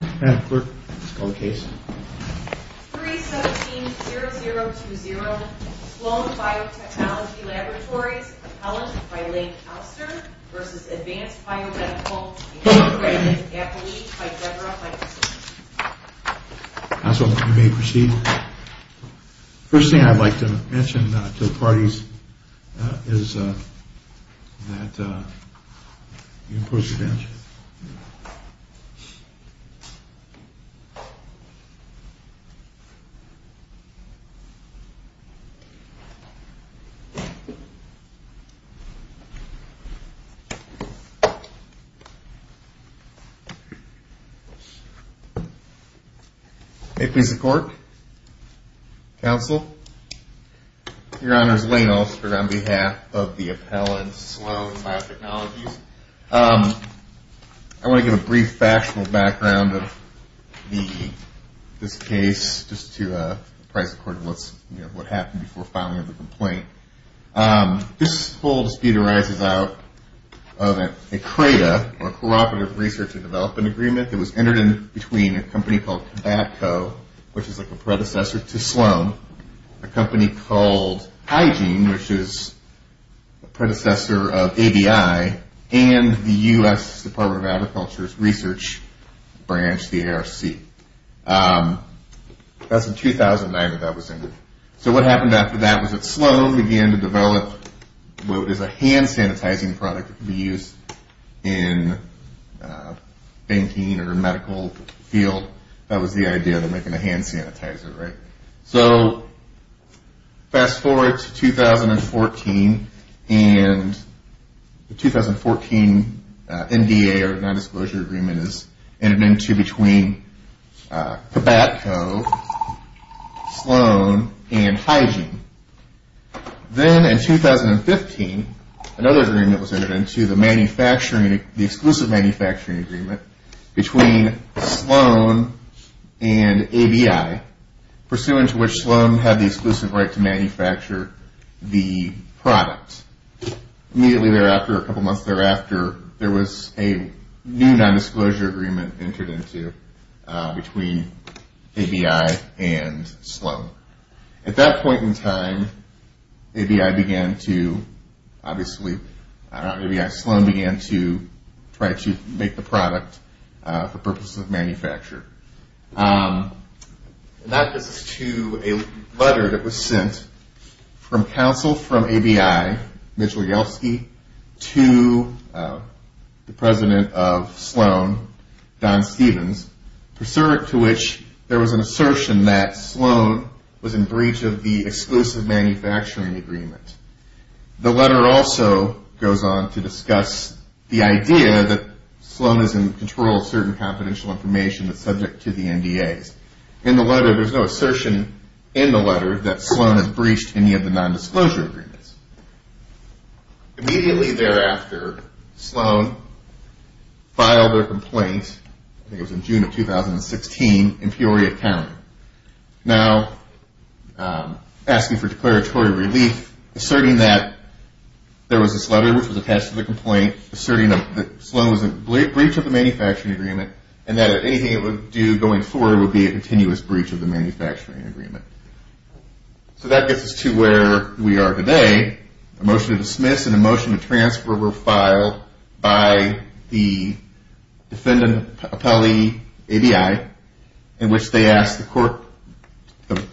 317-0020 Sloan Biotechnology Laboratories, Appellant by Lake Alster v. Advanced Biomedical Incorporated, Appellee by Debra Heintz. May it please the Court, Counsel, Your Honors, Lane Alster on behalf of the Appellant Sloan Biotechnologies. I want to give a brief factional background of this case just to price according to what happened before filing of the complaint. This whole dispute arises out of a CRADA or Cooperative Research and Development Agreement that was entered in between a company called and the U.S. Department of Agriculture's Research Branch, the ARC. That's in 2009 that that was entered. So what happened after that was that Sloan began to develop what is a hand sanitizing product that can be used in banking or medical field. So that was the idea of making a hand sanitizer, right? So fast forward to 2014 and the 2014 NDA or Non-Disclosure Agreement is entered into between Cabatco, Sloan, and Hygiene. Then in 2015, another agreement was entered into, the Exclusive Manufacturing Agreement between Sloan and ABI, pursuant to which Sloan had the exclusive right to manufacture the product. Immediately thereafter, a couple months thereafter, there was a new non-disclosure agreement entered into between ABI and Sloan. At that point in time, ABI began to, obviously, not ABI, Sloan began to try to make the product for purposes of manufacture. And that gets us to a letter that was sent from counsel from ABI, Mitchell Yeltsky, to the president of Sloan, Don Stevens, pursuant to which there was an assertion that Sloan was in breach of the Exclusive Manufacturing Agreement. The letter also goes on to discuss the idea that Sloan is in control of certain confidential information that's subject to the NDAs. In the letter, there's no assertion in the letter that Sloan has breached any of the non-disclosure agreements. Immediately thereafter, Sloan filed a complaint, I think it was in June of 2016, in Peoria County. Now, asking for declaratory relief, asserting that there was this letter which was attached to the complaint, asserting that Sloan was in breach of the manufacturing agreement, and that anything it would do going forward would be a continuous breach of the manufacturing agreement. So that gets us to where we are today. A motion to dismiss and a motion to transfer were filed by the defendant, appellee ABI, in which they asked the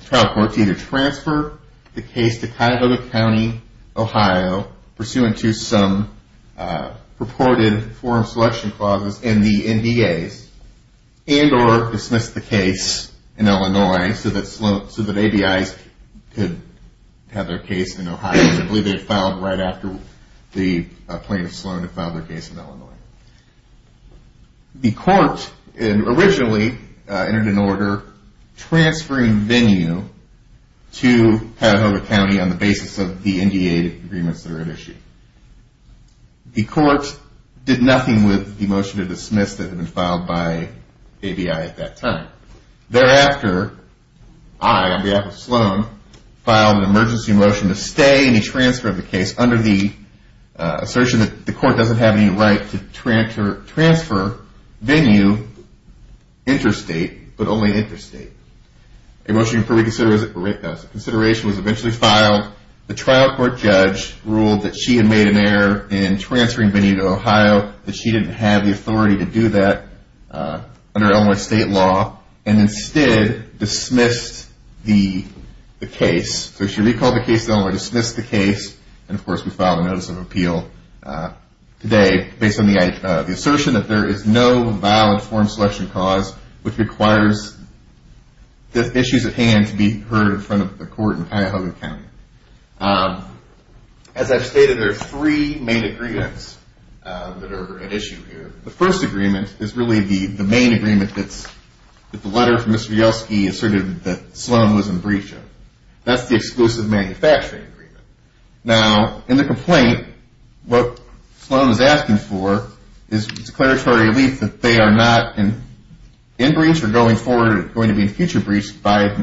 trial court to either transfer the case to Cuyahoga County, Ohio, pursuant to some purported forum selection clauses in the NDAs, and or dismiss the case in Illinois so that ABIs could have their case in Ohio. I believe they filed right after the plaintiff, Sloan, had filed their case in Illinois. The court originally entered into order transferring venue to Cuyahoga County on the basis of the NDA agreements that are at issue. The court did nothing with the motion to dismiss that had been under the assertion that the court doesn't have any right to transfer venue interstate, but only interstate. A motion for reconsideration was eventually filed. The trial court judge ruled that she had made an error in transferring venue to Ohio, that she didn't have the authority to do that under Illinois state law, and instead dismissed the case. So she recalled the case in Illinois, dismissed the case, and of course we filed a notice of appeal today based on the assertion that there is no valid forum selection clause which requires the issues at hand to be heard in front of the court in Cuyahoga County. As I've stated, there are three main agreements that are at issue here. The first agreement is really the main agreement that the letter from Mr. Yelsky asserted that Sloan was in breach of. That's the exclusive manufacturing agreement. Now, in the complaint, what Sloan is doing is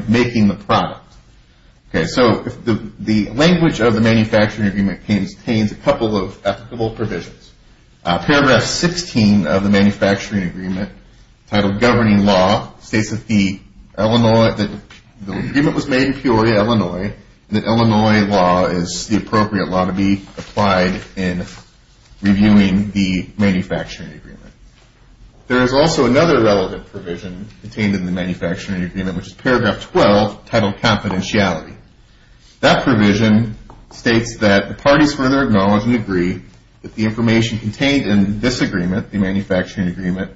making the product. So the language of the manufacturing agreement contains a couple of applicable provisions. Paragraph 16 of the manufacturing agreement, titled Governing Law, states that the agreement was made in Peoria, Illinois, and that Illinois law is the appropriate law to enforce. Paragraph 12, titled Confidentiality. That provision states that the parties further acknowledge and agree that the information contained in this agreement, the manufacturing agreement,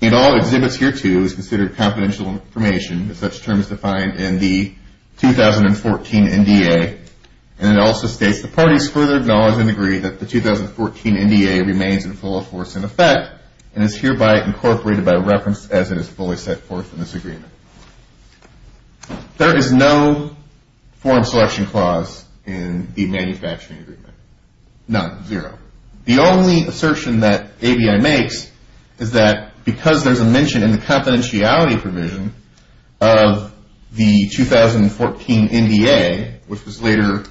in all exhibits hereto is considered confidential information, as such terms defined in the 2014 NDA, and it is fully set forth in this agreement. There is no forum selection clause in the manufacturing agreement. None. Zero. The only assertion that ABI makes is that because there's a mention in the confidentiality provision of the 2014 NDA, which was later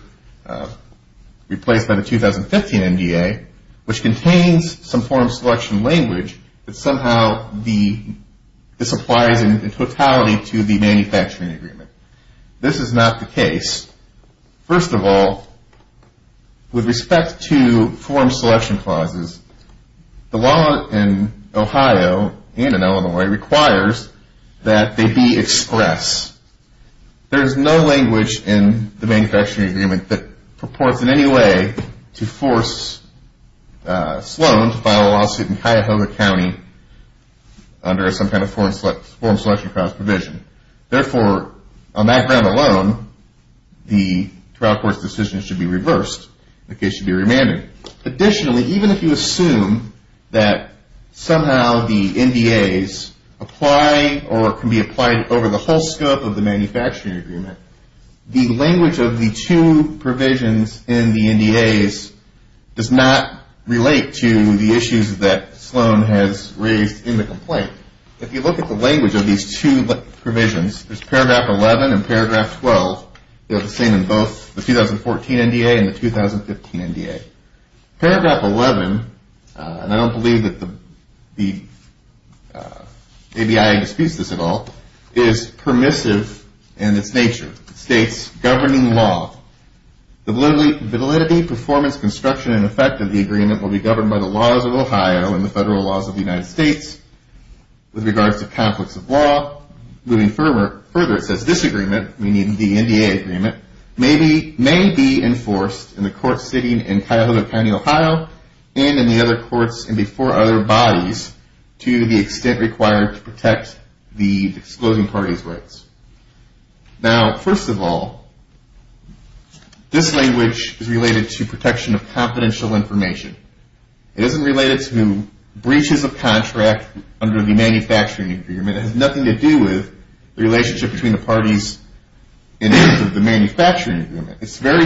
replaced by the 2015 NDA, which contains some information, somehow this applies in totality to the manufacturing agreement. This is not the case. First of all, with respect to forum selection clauses, the law in Ohio and in Illinois requires that they be express. There is no language in the manufacturing agreement that purports in any way to under some kind of forum selection clause provision. Therefore, on that ground alone, the trial court's decision should be reversed. The case should be remanded. Additionally, even if you assume that somehow the NDAs apply or can be applied over the whole scope of the manufacturing agreement, the language of the two provisions in the NDAs does not relate to the issues that Sloan has raised in the complaint. If you look at the language of these two provisions, there's paragraph 11 and paragraph 12. They're the same in both the 2014 NDA and the 2015 NDA. Paragraph 11, and I dispute this at all, is permissive in its nature. States governing law. The validity, performance, construction, and effect of the agreement will be governed by the laws of Ohio and the federal laws of the United States. With regards to conflicts of law, moving further, it says this agreement, meaning the NDA agreement, may be enforced in the courts sitting in Cuyahoga County, Ohio and in the other courts and before other bodies to the excluding parties' rights. Now, first of all, this language is related to protection of confidential information. It isn't related to breaches of contract under the manufacturing agreement. It has nothing to do with the relationship between the parties in the manufacturing agreement. It's very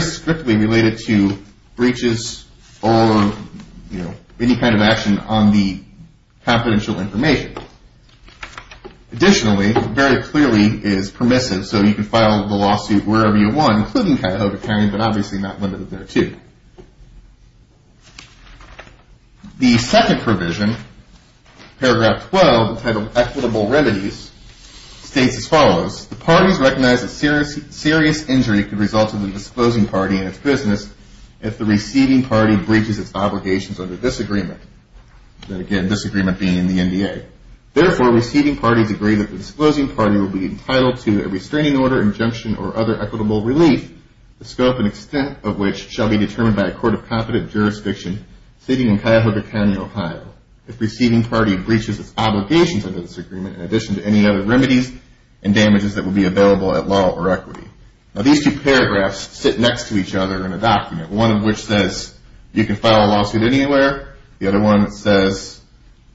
clearly is permissive, so you can file the lawsuit wherever you want, including Cuyahoga County, but obviously not limited there, too. The second provision, paragraph 12, entitled Equitable Remedies, states as follows. The parties recognize that serious injury could result in the disclosing party and its business if the receiving party breaches its obligations under this agreement. And again, this agreement being in the NDA. Therefore, receiving parties agree that the disclosing party will be entitled to a restraining order, injunction, or other equitable relief, the scope and extent of which shall be determined by a court of competent jurisdiction sitting in Cuyahoga County, Ohio, if receiving party breaches its equity. Now, these two paragraphs sit next to each other in a document, one of which says you can file a lawsuit anywhere. The other one says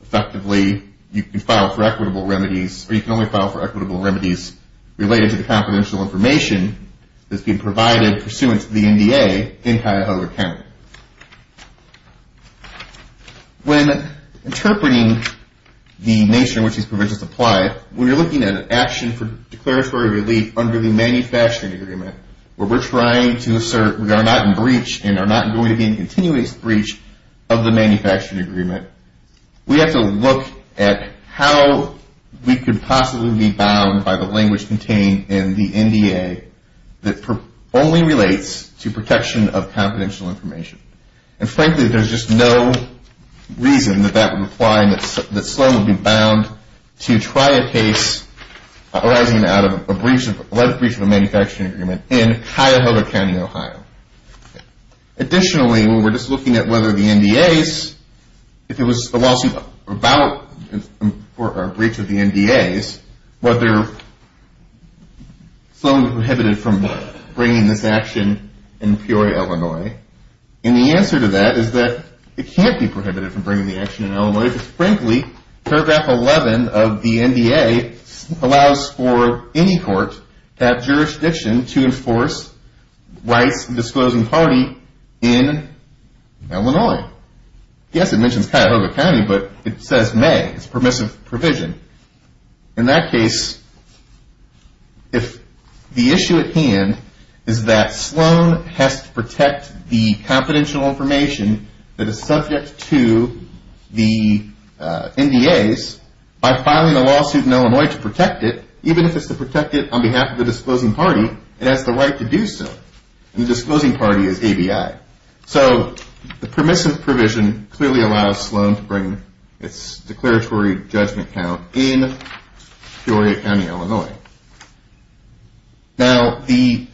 effectively you can file for equitable remedies, or you can only file for equitable remedies related to the confidential information that's being provided pursuant to the NDA in Cuyahoga County. When interpreting the nature in which these provisions apply, when you're looking at an action for declaratory relief under the manufacturing agreement, where we're trying to assert we are not in breach and are not going to be in continuous breach of the manufacturing agreement, we have to look at how we could possibly be bound by the language contained in the NDA that only relates to protection of confidential information. And frankly, there's just no reason that that would apply and that Sloan would be bound to try a case arising out of a breach of a manufacturing agreement in Cuyahoga County, Ohio. Additionally, when we're just looking at whether the NDAs, if it was a lawsuit about a breach of the NDAs, whether Sloan would be prohibited from bringing this action in Peoria, Illinois. And the answer to that is that it can't be prohibited from bringing the action in Illinois. Frankly, paragraph 11 of the NDA allows for any court to have jurisdiction to enforce rights disclosing party in Illinois. Yes, it mentions Cuyahoga County, but it says may. It's a permissive provision. In that case, if the is subject to the NDAs, by filing a lawsuit in Illinois to protect it, even if it's to protect it on behalf of the disclosing party, it has the right to do so. And the disclosing party is ABI. So the permissive provision clearly allows Sloan to bring its declaratory judgment count in Peoria County, Illinois. Now, the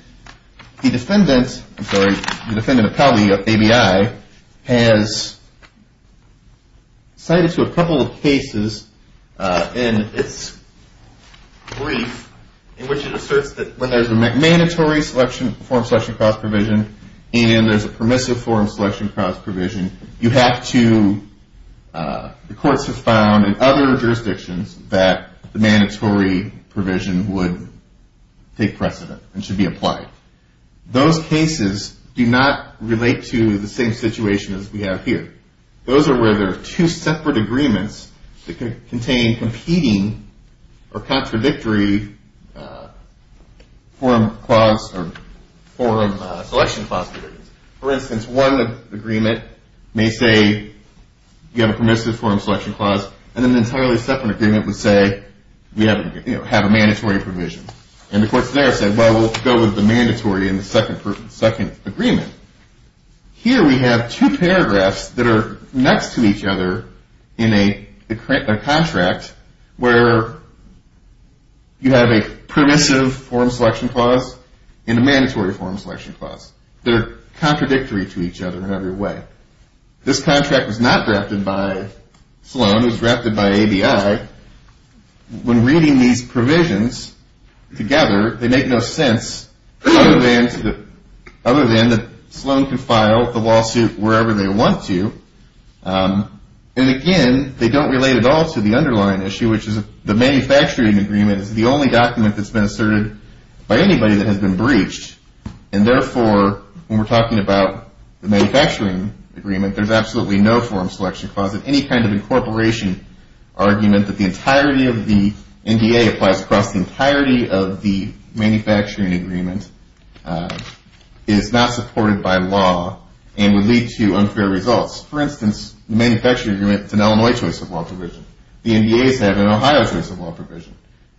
defendant, I'm sorry, the defendant appellee of ABI has cited to a couple of cases in its brief in which it asserts that when there's a mandatory form selection clause provision and there's a permissive form selection clause provision, you have to, the courts have found in other cases that the permissive provision would take precedent and should be applied. Those cases do not relate to the same situation as we have here. Those are where there are two separate agreements that could contain competing or contradictory forum clause or forum selection clause agreements. For instance, one agreement may say you have a permissive forum selection clause, and then an entirely separate agreement would say we have a mandatory provision. And the courts there say, well, we'll go with the mandatory in the second agreement. Here we have two paragraphs that are next to each other in every way. This contract was not drafted by Sloan. It was drafted by ABI. When reading these provisions together, they make no sense other than that Sloan can file the lawsuit wherever they want to. And again, they don't relate at all to the underlying issue, which is the manufacturing agreement is the manufacturing agreement, there's absolutely no forum selection clause in any kind of incorporation argument that the entirety of the NDA applies across the entirety of the manufacturing agreement is not supported by law and would lead to unfair results. For instance, the manufacturing agreement is an Illinois choice of law provision. The NDA is having an Ohio choice of law provision.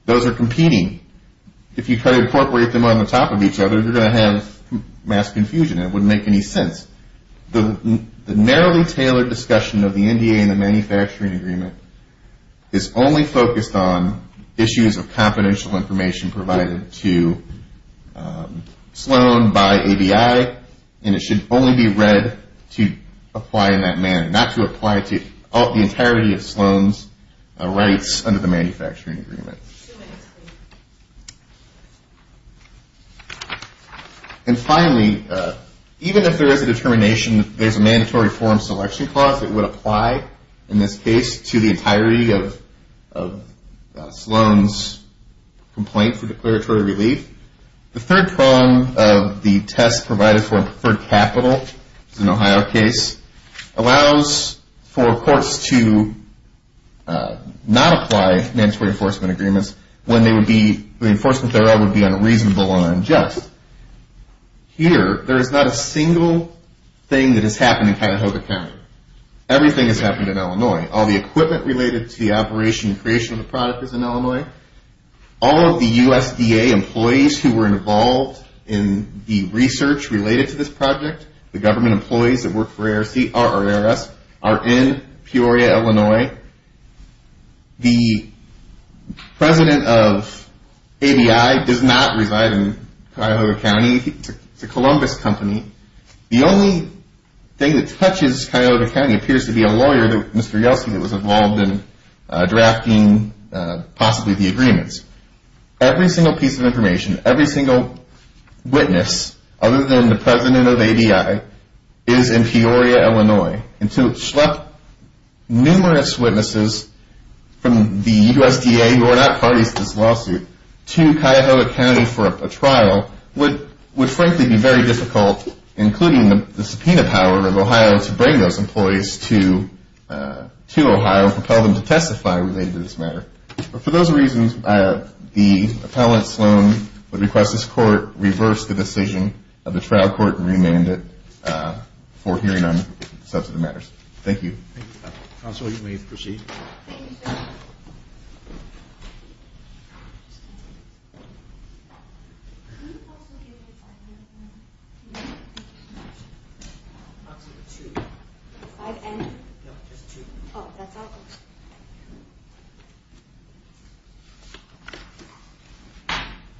Those are competing. If you try to incorporate them on the top of each other, you're going to have mass confusion. It wouldn't make any sense. The narrowly tailored discussion of the NDA and the manufacturing agreement is only focused on issues of confidential information provided to Sloan by ABI, and it should only be read to apply in that manner, not to apply to the entirety of Sloan's rights under the manufacturing agreement. And finally, even if there is a determination that there's a mandatory forum selection clause that would apply in this case to the entirety of Sloan's complaint for declaratory relief, the third prong of the test provided for capital, in the Ohio case, allows for courts to not apply mandatory enforcement agreements when the enforcement thereof would be unreasonable and unjust. Here, there is not a single thing that has happened in Cuyahoga County. Everything has happened in Illinois. All the equipment related to the project, the government employees that work for ARS are in Peoria, Illinois. The president of ABI does not reside in Cuyahoga County. It's a Columbus company. The only thing that touches Cuyahoga County appears to be a lawyer, Mr. Yeltsin, that was involved in drafting possibly the agreements. Every single piece of information, every single witness, other than the president of ABI, is in Peoria, Illinois. And to schlep numerous witnesses from the USDA, who are not parties to this lawsuit, to Cuyahoga County for a trial would frankly be very difficult, including the subpoena power of Ohio to bring those employees to Ohio and propel them to testify related to this matter. For those reasons, the appellant, Sloan, would request this court reverse the decision of the trial court and remand it for hearing on such matters. Thank you. Counsel, you may proceed.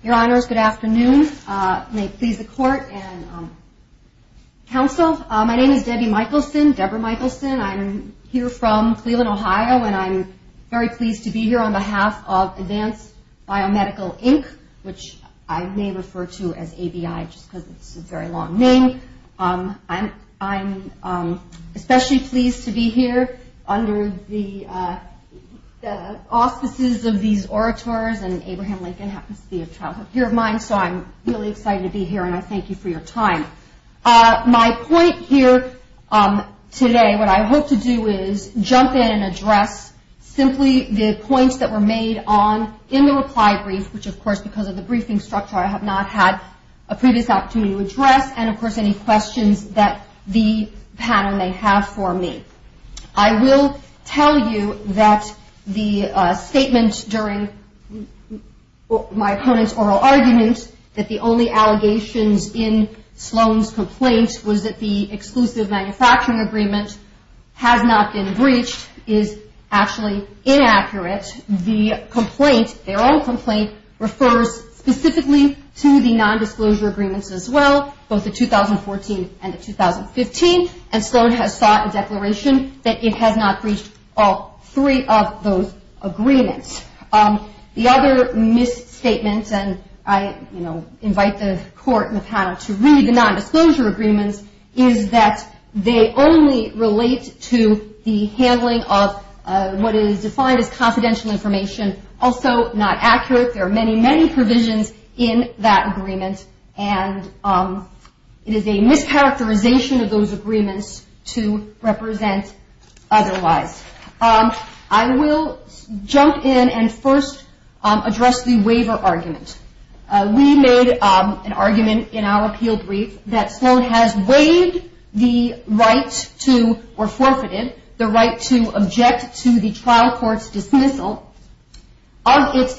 Your Honors, good afternoon. May it please the court and counsel, my name is Debbie Michelson, Debra Michelson. I'm here from Cleveland, Ohio, and I'm very pleased to be here on behalf of Advanced Biomedical Inc., which I may refer to as ABI just because it's a very long name. I'm especially pleased to be here under the auspices of these orators, and Abraham Lincoln happens to be a childhood peer of mine, so I'm really excited to be here and I thank you for your time. My point here today, what I hope to do is jump in and address simply the points that were made on, in the reply brief, which of course because of the briefing structure I have not had a previous opportunity to address, and of course any questions that the panel may have for me. I will tell you that the statement during my opponent's oral argument that the only allegations in Sloan's complaint was that the exclusive manufacturing agreement has not been breached is actually inaccurate. The complaint, their own complaint, refers specifically to the nondisclosure agreements as well, both the 2014 and the 2015, and Sloan has sought a nondisclosure agreement. The other misstatement, and I, you know, invite the court and the panel to read the nondisclosure agreements, is that they only relate to the handling of what is defined as confidential information, also not accurate. There are many, many provisions in that agreement, and it is a mischaracterization of those agreements to represent otherwise. I will jump in and first address the waiver argument. We made an argument in our appeal brief that Sloan has waived the right to, or forfeited, the right to object to the trial court's dismissal of its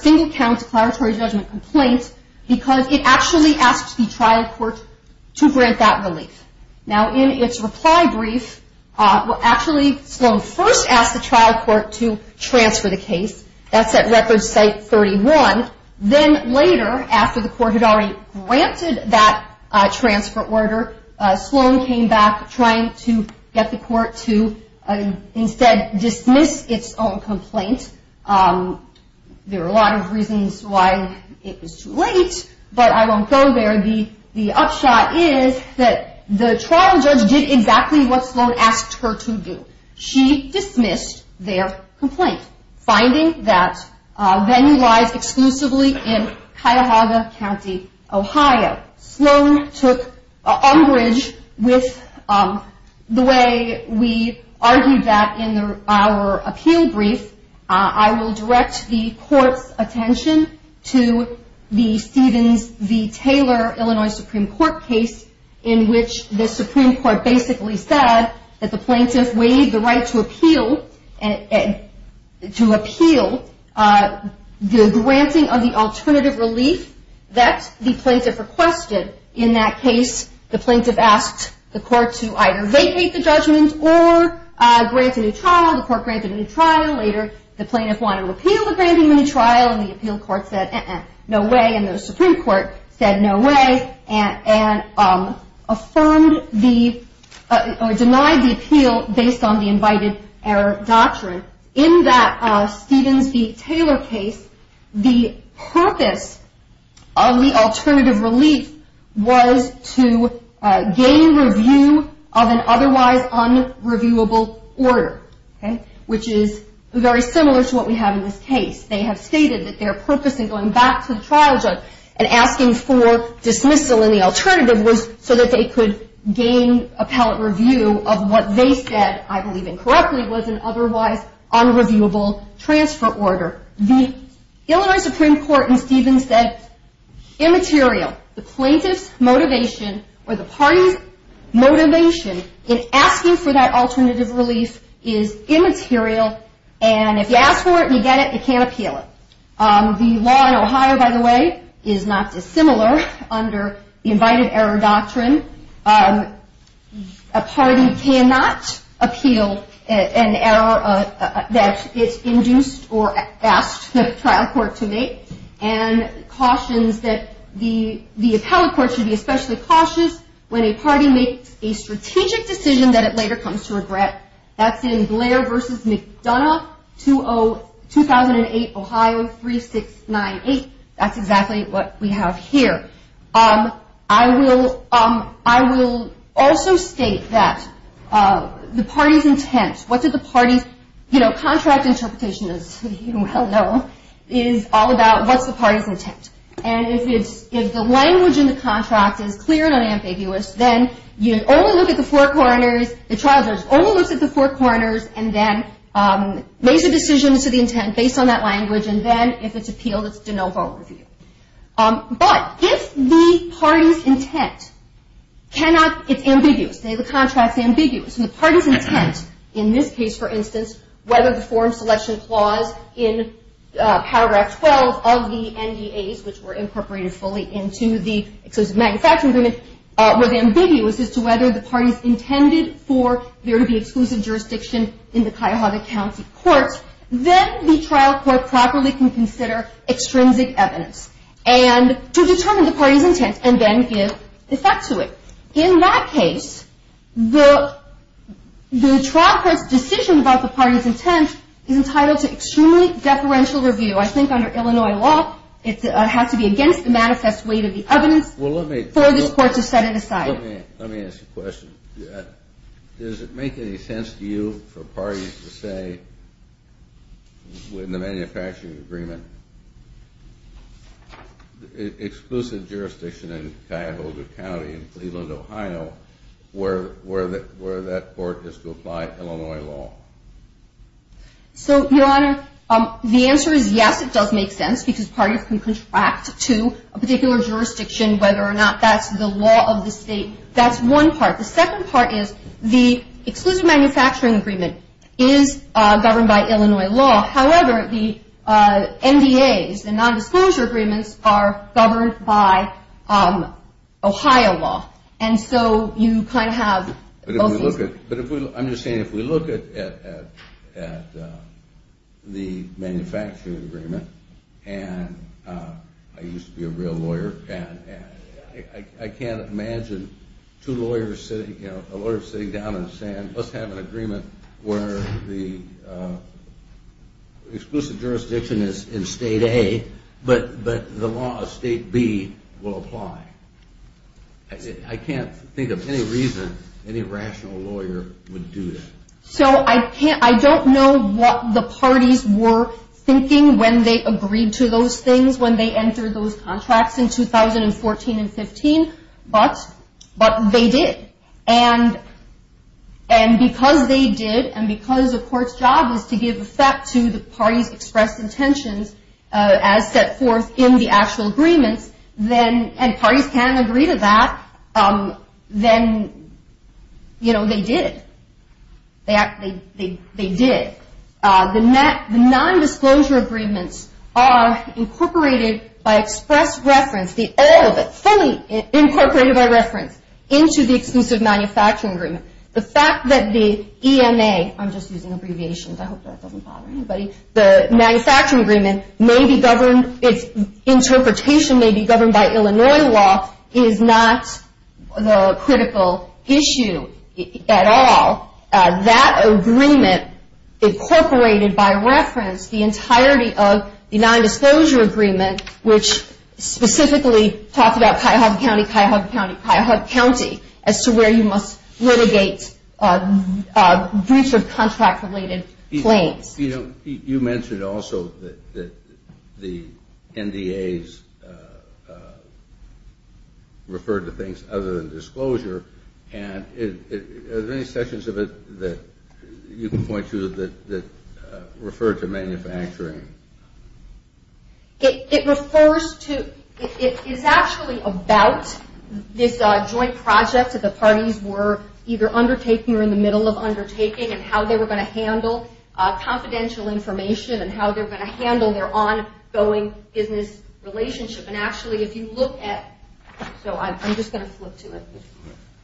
single count declaratory judgment complaint because it actually asked the trial court to grant that relief. Now, in its reply brief, actually Sloan first asked the trial court to transfer the case. That's at Record Site 31. Then later, after the court had already granted that transfer order, Sloan came back trying to get the court to instead dismiss its own complaint. There are a lot of reasons why it was too late, but I won't go there. The upshot is that the trial judge did exactly what Sloan asked her to do. She I will direct the court's attention to the Stevens v. Taylor Illinois Supreme Court case in which the Supreme Court basically said that the plaintiff waived the right to appeal, to appeal the granting of the alternative relief that the plaintiff requested. In that case, the plaintiff asked the court to either vacate the judgment or grant a new trial. The court granted a new trial. Later, the plaintiff wanted to appeal the granting of a new trial, and the appeal court said, uh-uh, no way, and the Supreme Court said, no way, and affirmed the, or denied the appeal based on the invited error doctrine. In that Stevens v. Taylor case, the purpose of the alternative relief was to gain review of an otherwise unreviewable order, which is very similar to what we have in this case. They have stated that their purpose in going back to the trial judge and asking for dismissal in the alternative was so that they could gain appellate review of what they said, I believe incorrectly, was an otherwise unreviewable transfer order. The Illinois Supreme Court in Stevens said, immaterial. The plaintiff's motivation, or the party's motivation in asking for that alternative relief is immaterial, and if you ask for it and you get it, you can't appeal it. The law in Ohio, by the way, is not dissimilar under the invited error doctrine. A party cannot appeal an error that is induced or asked the trial court to make, and cautions that the appellate court should be especially cautious when a party makes a strategic decision that it later comes to regret. That's in Blair v. McDonough, 2008, Ohio, 3698. That's exactly what we have here. I will also state that the party's intent, what's the party's contract interpretation, as you well know, is all about what's the party's intent. And if the language in the contract is clear and unambiguous, then you only look at the four corners, the trial judge only looks at the four corners, and then makes a decision as to the intent based on that language, and then if it's appealed, it's de novo review. But if the party's intent cannot, it's ambiguous, the contract's ambiguous, and the party's intent, in this case, for instance, whether the form selection clause in paragraph 12 of the NDAs, which were incorporated fully into the exclusive manufacturing agreement, were the ambiguous as to whether the party's intended for there to be exclusive jurisdiction in the Cuyahoga County courts, then the trial court properly can consider extrinsic evidence to determine the party's intent, and then give effect to it. In that case, the trial court's decision about the party's intent is entitled to extremely deferential review. I think under Illinois law, it has to be against the manifest weight of the evidence for this court to set it aside. Let me ask a question. Does it make any sense to you for parties to say, in the manufacturing agreement, exclusive jurisdiction in Cuyahoga County, in Cleveland, Ohio, where that court is to apply Illinois law? So, Your Honor, the answer is yes, it does make sense, because parties can contract to a particular jurisdiction, whether or not that's the law of the state. That's one part. The second part is, the exclusive manufacturing agreement is governed by Illinois law. However, the NDAs, the nondisclosure agreements, are governed by Ohio law, and so you kind of have... I'm just saying, if we look at the manufacturing agreement, and I used to be a real lawyer, and I can't imagine two lawyers sitting, a lawyer sitting down and saying, let's have an agreement where the exclusive jurisdiction is in State A, but the law of State B will apply. I can't think of any reason any rational lawyer would do that. So, I don't know what the parties were thinking when they agreed to those things, when they entered those contracts in 2014 and 15, but they did. And because they did, and because the court's job is to give effect to the parties' expressed intentions as set forth in the actual agreements, and parties can agree to that, then, you know, they did. They did. The nondisclosure agreements are incorporated by express reference, all of it, fully incorporated by reference, into the exclusive manufacturing agreement. The fact that the EMA, I'm just using abbreviations, I hope that doesn't bother anybody, the manufacturing agreement may be governed, its interpretation may be governed by Illinois law, is not the critical issue at all. That agreement incorporated by reference the entirety of the nondisclosure agreement, which specifically talked about Cuyahoga County, Cuyahoga County, Cuyahoga County, as to where you must litigate briefs of contract-related claims. You know, you mentioned also that the NDAs referred to things other than disclosure, and are there any sections of it that you can point to that refer to manufacturing? It refers to, it is actually about this joint project that the parties were either undertaking or in the middle of undertaking and how they were going to handle confidential information and how they were going to handle their ongoing business relationship. And actually, if you look at, so I'm just going to flip to it,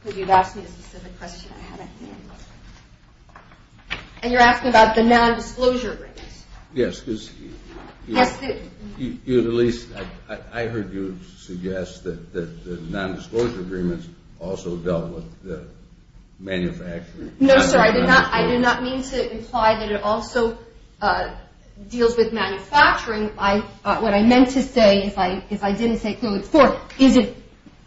because you've asked me a specific question I haven't answered. And you're asking about the nondisclosure agreements. Yes, because you at least, I heard you suggest that the nondisclosure agreements also dealt with the manufacturing. No, sir, I did not mean to imply that it also deals with manufacturing. What I meant to say, if I didn't say it clearly before, is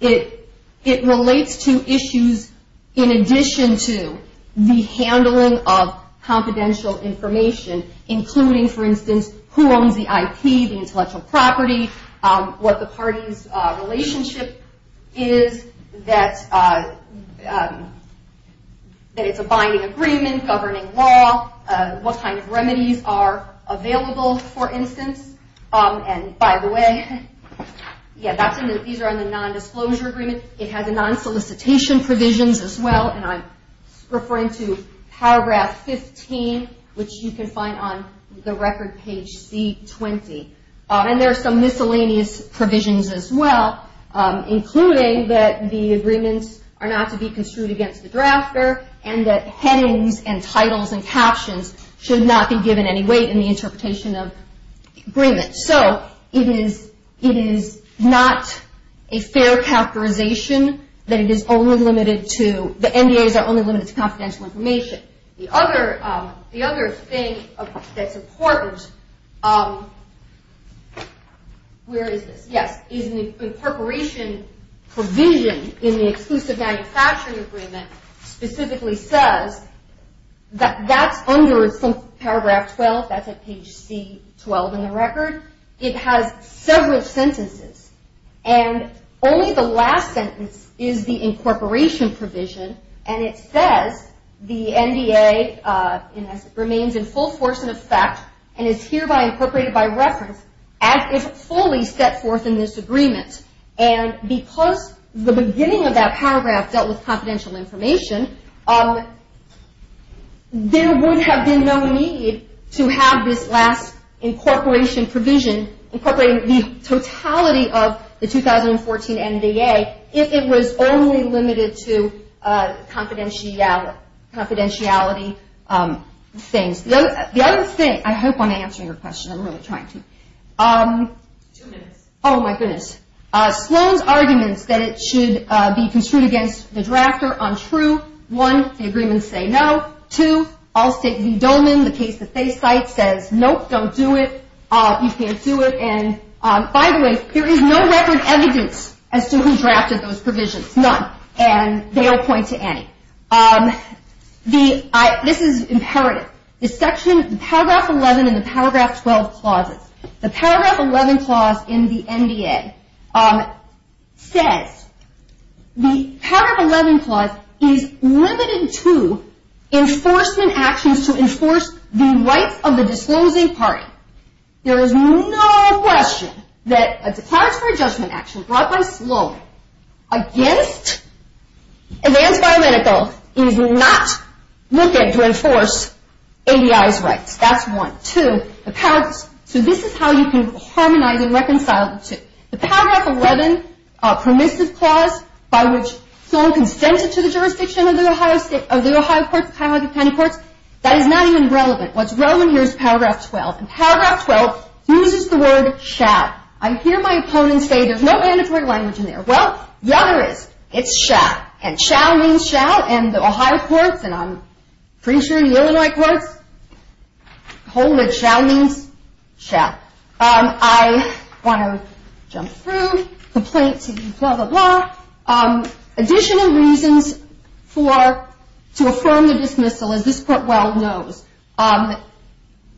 it relates to issues in addition to the handling of confidential information, including, for instance, who owns the IP, the intellectual property, what the party's relationship is, that it's a binding agreement governing law, what kind of remedies are available, for instance. And by the way, yeah, these are on the nondisclosure agreement. It has non-solicitation provisions as well, and I'm referring to paragraph 15, which you can find on the record page C20. And there are some miscellaneous provisions as well, including that the agreements are not to be construed against the drafter, and that headings and titles and captions should not be given any weight in the interpretation of agreements. So it is not a fair characterization that it is only limited to, the NDAs are only limited to confidential information. The other thing that's important, where is this? Yes, is an incorporation provision in the exclusive manufacturing agreement specifically says that that's under paragraph 12, that's at page C12 in the record. It has several sentences, and only the last sentence is the incorporation provision, and it says the NDA remains in full force in effect and is hereby incorporated by reference as if fully set forth in this agreement. And because the beginning of that paragraph dealt with confidential information, there would have been no need to have this last incorporation provision incorporating the totality of the 2014 NDA if it was only limited to confidentiality things. The other thing, I hope I'm answering your question, I'm really trying to. Two minutes. Oh my goodness. Sloan's arguments that it should be construed against the drafter are untrue. One, the agreements say no. Two, Allstate v. Dolman, the case that they cite, says nope, don't do it, you can't do it. And by the way, there is no record evidence as to who drafted those provisions, none. And they all point to Annie. This is imperative. The paragraph 11 and the paragraph 12 clauses, the paragraph 11 clause in the NDA says, the paragraph 11 clause is limited to enforcement actions to enforce the rights of the disclosing party. There is no question that a Declaratory Judgment Action brought by Sloan against Advanced Biomedical is not looking to enforce ABI's rights. That's one. Two, so this is how you can harmonize and reconcile the two. The paragraph 11 permissive clause by which Sloan consented to the jurisdiction of the Ohio County Courts, that is not even relevant. What's relevant here is paragraph 12. And paragraph 12 uses the word shall. I hear my opponents say there's no mandatory language in there. Well, the other is. It's shall. And shall means shall, and the Ohio Courts and I'm pretty sure the Illinois Courts hold that shall means shall. I want to jump through. Complaints, blah, blah, blah. Additional reasons to affirm the dismissal, as this court well knows,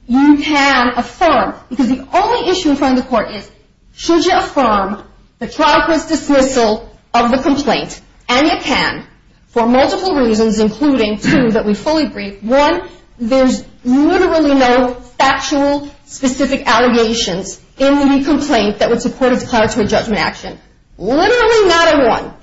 you can affirm. Because the only issue in front of the court is, should you affirm the trial court's dismissal of the complaint? And you can for multiple reasons, including two that we fully agree. One, there's literally no factual specific allegations in the complaint that would support a declaratory judgment action. Literally not a one.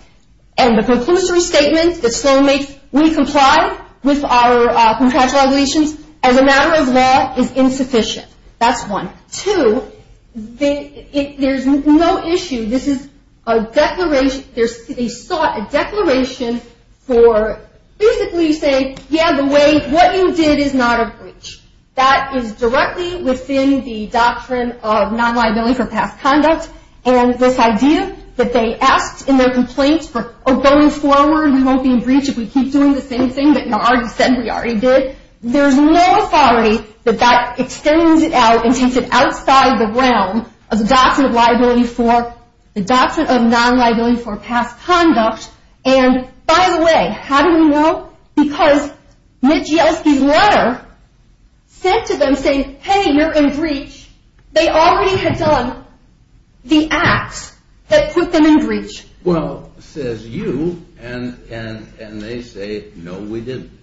And the preclusory statement that Sloan makes, we comply with our contractual allegations as a matter of law, is insufficient. That's one. Two, there's no issue. This is a declaration. They sought a declaration for basically saying, yeah, the way, what you did is not a breach. That is directly within the doctrine of non-liability for past conduct. And this idea that they asked in their complaint for going forward, we won't be in breach if we keep doing the same thing that you already said we already did. There's no authority that that extends it out and takes it outside the realm of the doctrine of liability for, the doctrine of non-liability for past conduct. And by the way, how do we know? Because Mitch Yeltsin's letter said to them, say, hey, you're in breach. They already had done the acts that put them in breach. Well, says you, and they say, no, we didn't.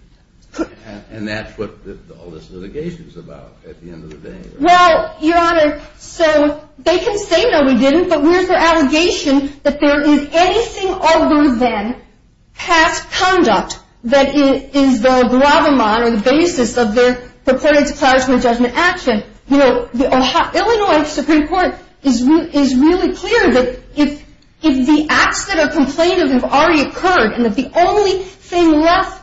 And that's what all this litigation is about at the end of the day. Well, Your Honor, so they can say, no, we didn't. But we're for allegation that there is anything other than past conduct that is the gravamon or the basis of their purported supplies for a judgment action. Illinois Supreme Court is really clear that if the acts that are complained of have already occurred, and if the only thing left,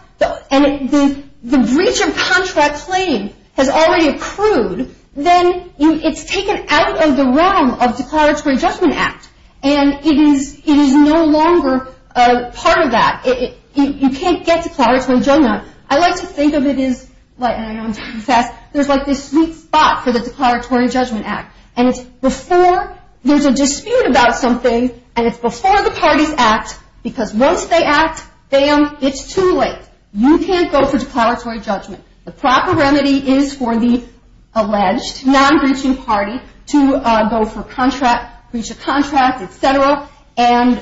and the breach of contract claim has already accrued, then it's taken out of the realm of declaratory judgment act. And it is no longer part of that. You can't get declaratory judgment. I like to think of it as, and I know I'm talking fast, there's like this sweet spot for the declaratory judgment act. And it's before there's a dispute about something, and it's before the parties act, because once they act, bam, it's too late. You can't go for declaratory judgment. The proper remedy is for the alleged non-breaching party to go for breach of contract, et cetera, and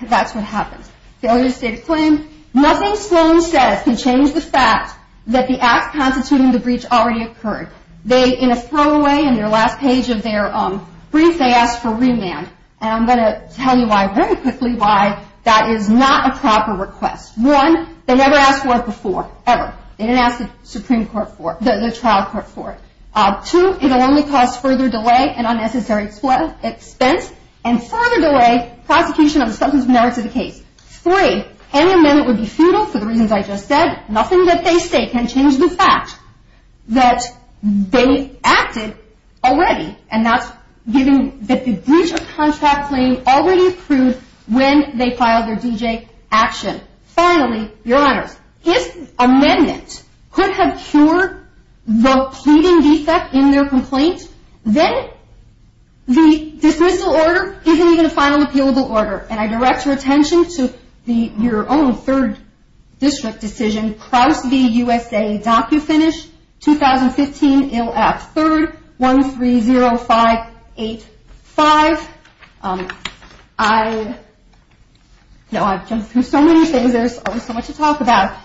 that's what happens. Failure to state a claim, nothing Sloan says can change the fact that the acts constituting the breach already occurred. They, in a throwaway, in their last page of their brief, they asked for remand. And I'm going to tell you why very quickly why that is not a proper request. One, they never asked for it before, ever. They didn't ask the Supreme Court for it, the trial court for it. Two, it will only cause further delay and unnecessary expense, and further delay prosecution of the substance of merits of the case. Three, any amendment would be futile for the reasons I just said. Nothing that they say can change the fact that they acted already, and that's giving the breach of contract claim already approved when they filed their D.J. action. Finally, Your Honors, if amendments could have cured the pleading defect in their complaint, then the dismissal order isn't even a final appealable order. And I direct your attention to your own third district decision, Crouse v. USA DocuFinish, 2015, ILF, 3rd, 130585. I know I've jumped through so many things, there's always so much to talk about.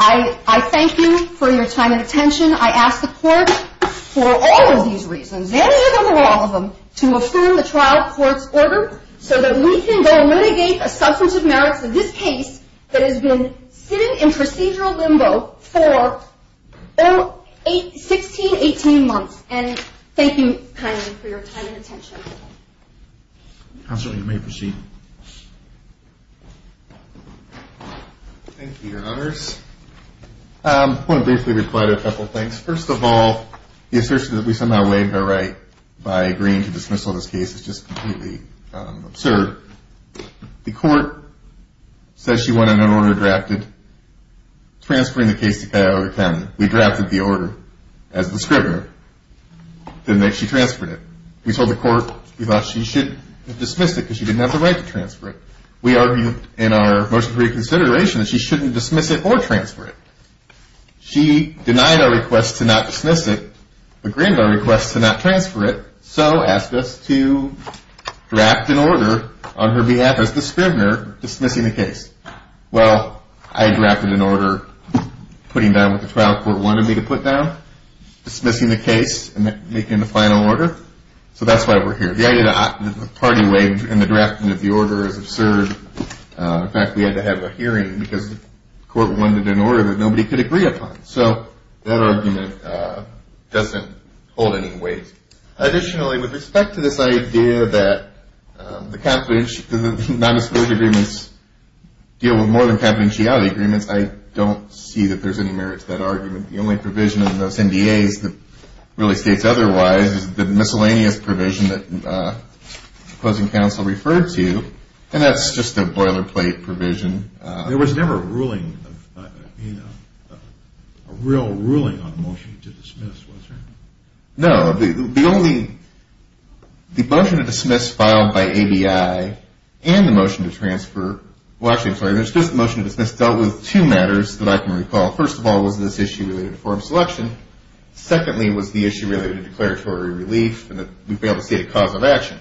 I thank you for your time and attention. I ask the court for all of these reasons, any of them or all of them, to affirm the trial court's order so that we can go and mitigate a substance of merits of this case that has been sitting in procedural limbo for 16, 18 months. And thank you kindly for your time and attention. Counsel, you may proceed. Thank you, Your Honors. I want to briefly reply to a couple of things. First of all, the assertion that we somehow waived our right by agreeing to dismissal of this case is just completely absurd. The court says she wanted an order drafted transferring the case to Cuyahoga County. We drafted the order as the scrivener, then she transferred it. We told the court we thought she should dismiss it because she didn't have the right to transfer it. We argued in our motion for reconsideration that she shouldn't dismiss it or transfer it. She denied our request to not dismiss it, but granted our request to not transfer it, so asked us to draft an order on her behalf as the scrivener dismissing the case. Well, I drafted an order putting down what the trial court wanted me to put down, dismissing the case and making the final order. So that's why we're here. The idea that the party waived and the drafting of the order is absurd. In fact, we had to have a hearing because the court wanted an order that nobody could agree upon. So that argument doesn't hold any weight. Additionally, with respect to this idea that the non-disclosure agreements deal with more than confidentiality agreements, I don't see that there's any merit to that argument. The only provision in those NDAs that really states otherwise is the miscellaneous provision that opposing counsel referred to, and that's just a boilerplate provision. There was never a real ruling on the motion to dismiss, was there? No. The motion to dismiss filed by ABI and the motion to transfer – well, actually, I'm sorry. There's just the motion to dismiss dealt with two matters that I can recall. First of all was this issue related to form selection. Secondly was the issue related to declaratory relief and that we failed to state a cause of action.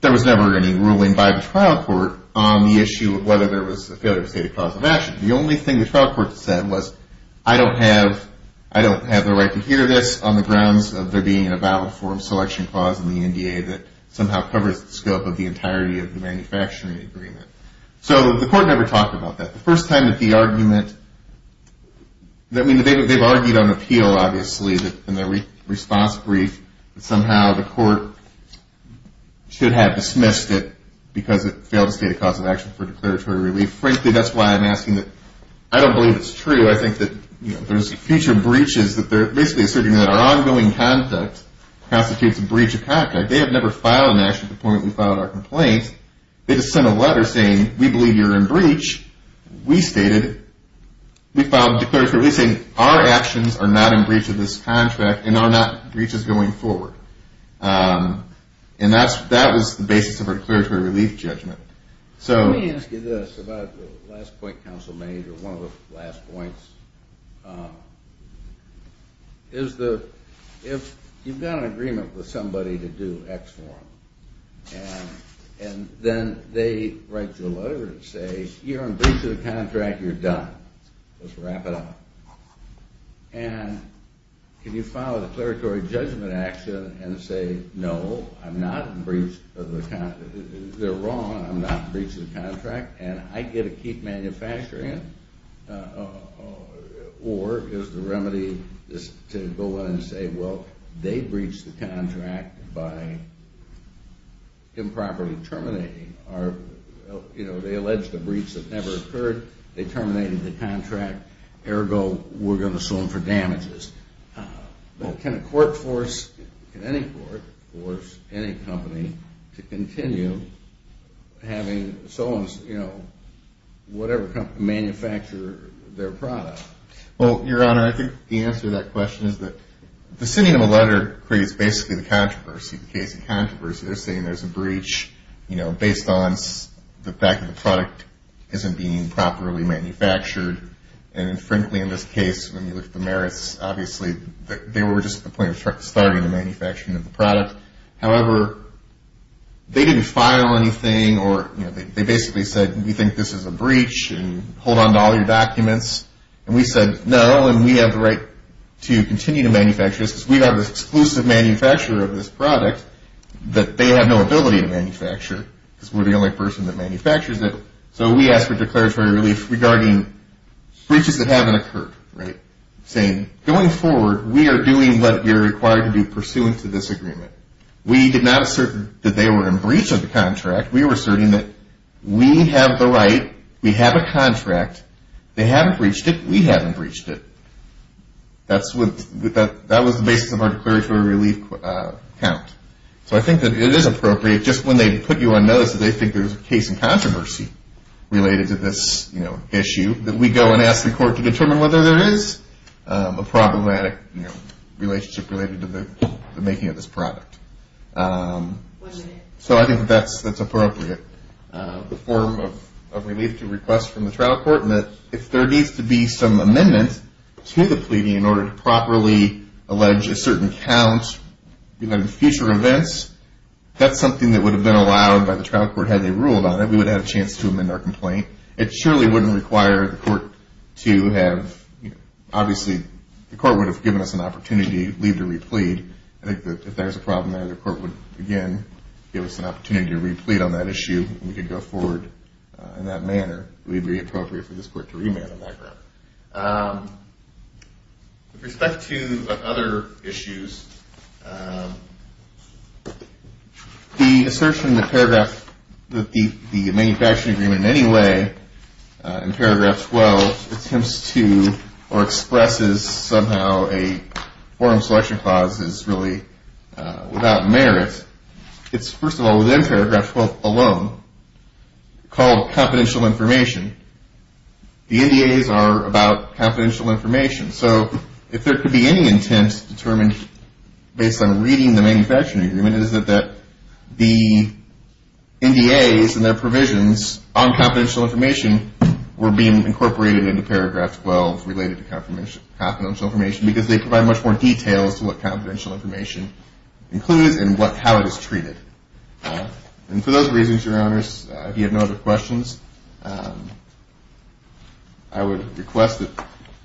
There was never any ruling by the trial court on the issue of whether there was a failure to state a cause of action. The only thing the trial court said was, I don't have the right to hear this on the grounds of there being a valid form selection clause in the NDA that somehow covers the scope of the entirety of the manufacturing agreement. So the court never talked about that. The first time that the argument – I mean, they've argued on appeal, obviously, in their response brief that somehow the court should have dismissed it because it failed to state a cause of action for declaratory relief. Frankly, that's why I'm asking that. I don't believe it's true. I think that there's future breaches that they're basically asserting that our ongoing conduct constitutes a breach of conduct. They have never filed an action to the point that we filed our complaint. We stated – we filed declaratory – we say our actions are not in breach of this contract and are not breaches going forward. And that was the basis of our declaratory relief judgment. So – Let me ask you this about the last point counsel made or one of the last points. Is the – if you've got an agreement with somebody to do X form and then they write you a letter and say, you're in breach of the contract, you're done. Let's wrap it up. And can you file a declaratory judgment action and say, no, I'm not in breach of the – they're wrong, I'm not in breach of the contract and I get to keep manufacturing it? Or is the remedy to go in and say, well, they breached the contract by improperly terminating our – you know, they alleged a breach that never occurred. They terminated the contract. Ergo, we're going to sue them for damages. But can a court force – can any court force any company to continue having so-and-so, you know, whatever company, manufacture their product? Well, Your Honor, I think the answer to that question is that the sending of a letter creates basically the controversy. The case of controversy. They're saying there's a breach, you know, based on the fact that the product isn't being properly manufactured. And frankly, in this case, when you look at the merits, obviously they were just at the point of starting the manufacturing of the product. However, they didn't file anything or, you know, they basically said, we think this is a breach and hold on to all your documents. And we said, no, and we have the right to continue to manufacture this because we have the exclusive manufacturer of this product that they have no ability to manufacture because we're the only person that manufactures it. So we asked for declaratory relief regarding breaches that haven't occurred, right? Saying, going forward, we are doing what we are required to do pursuant to this agreement. We did not assert that they were in breach of the contract. We were asserting that we have the right, we have a contract. They haven't breached it. We haven't breached it. That was the basis of our declaratory relief count. So I think that it is appropriate, just when they put you on notice that they think there's a case in controversy related to this, you know, issue, that we go and ask the court to determine whether there is a problematic, you know, relationship related to the making of this product. So I think that that's appropriate, the form of relief to request from the trial court, and that if there needs to be some amendment to the pleading in order to properly allege a certain count, you know, in future events, that's something that would have been allowed by the trial court had they ruled on it. We would have had a chance to amend our complaint. It surely wouldn't require the court to have, you know, obviously the court would have given us an opportunity to leave to replead. I think that if there's a problem there, the court would, again, give us an opportunity to replead on that issue, and we could go forward in that manner. It would be appropriate for this court to remand on that ground. With respect to other issues, the assertion in the paragraph that the manufacturing agreement in any way, in paragraph 12, attempts to or expresses somehow a forum selection clause is really without merit, it's, first of all, within paragraph 12 alone, called confidential information. The NDAs are about confidential information. So if there could be any intent determined based on reading the manufacturing agreement, it is that the NDAs and their provisions on confidential information were being incorporated into paragraph 12 related to confidential information because they provide much more details to what confidential information includes and how it is treated. And for those reasons, Your Honors, if you have no other questions, I would request that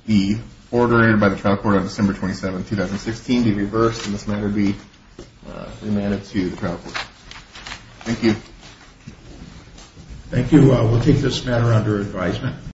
the order by the trial court on December 27, 2016, be reversed, and this matter be remanded to the trial court. Thank you. Thank you. We'll take this matter under advisement.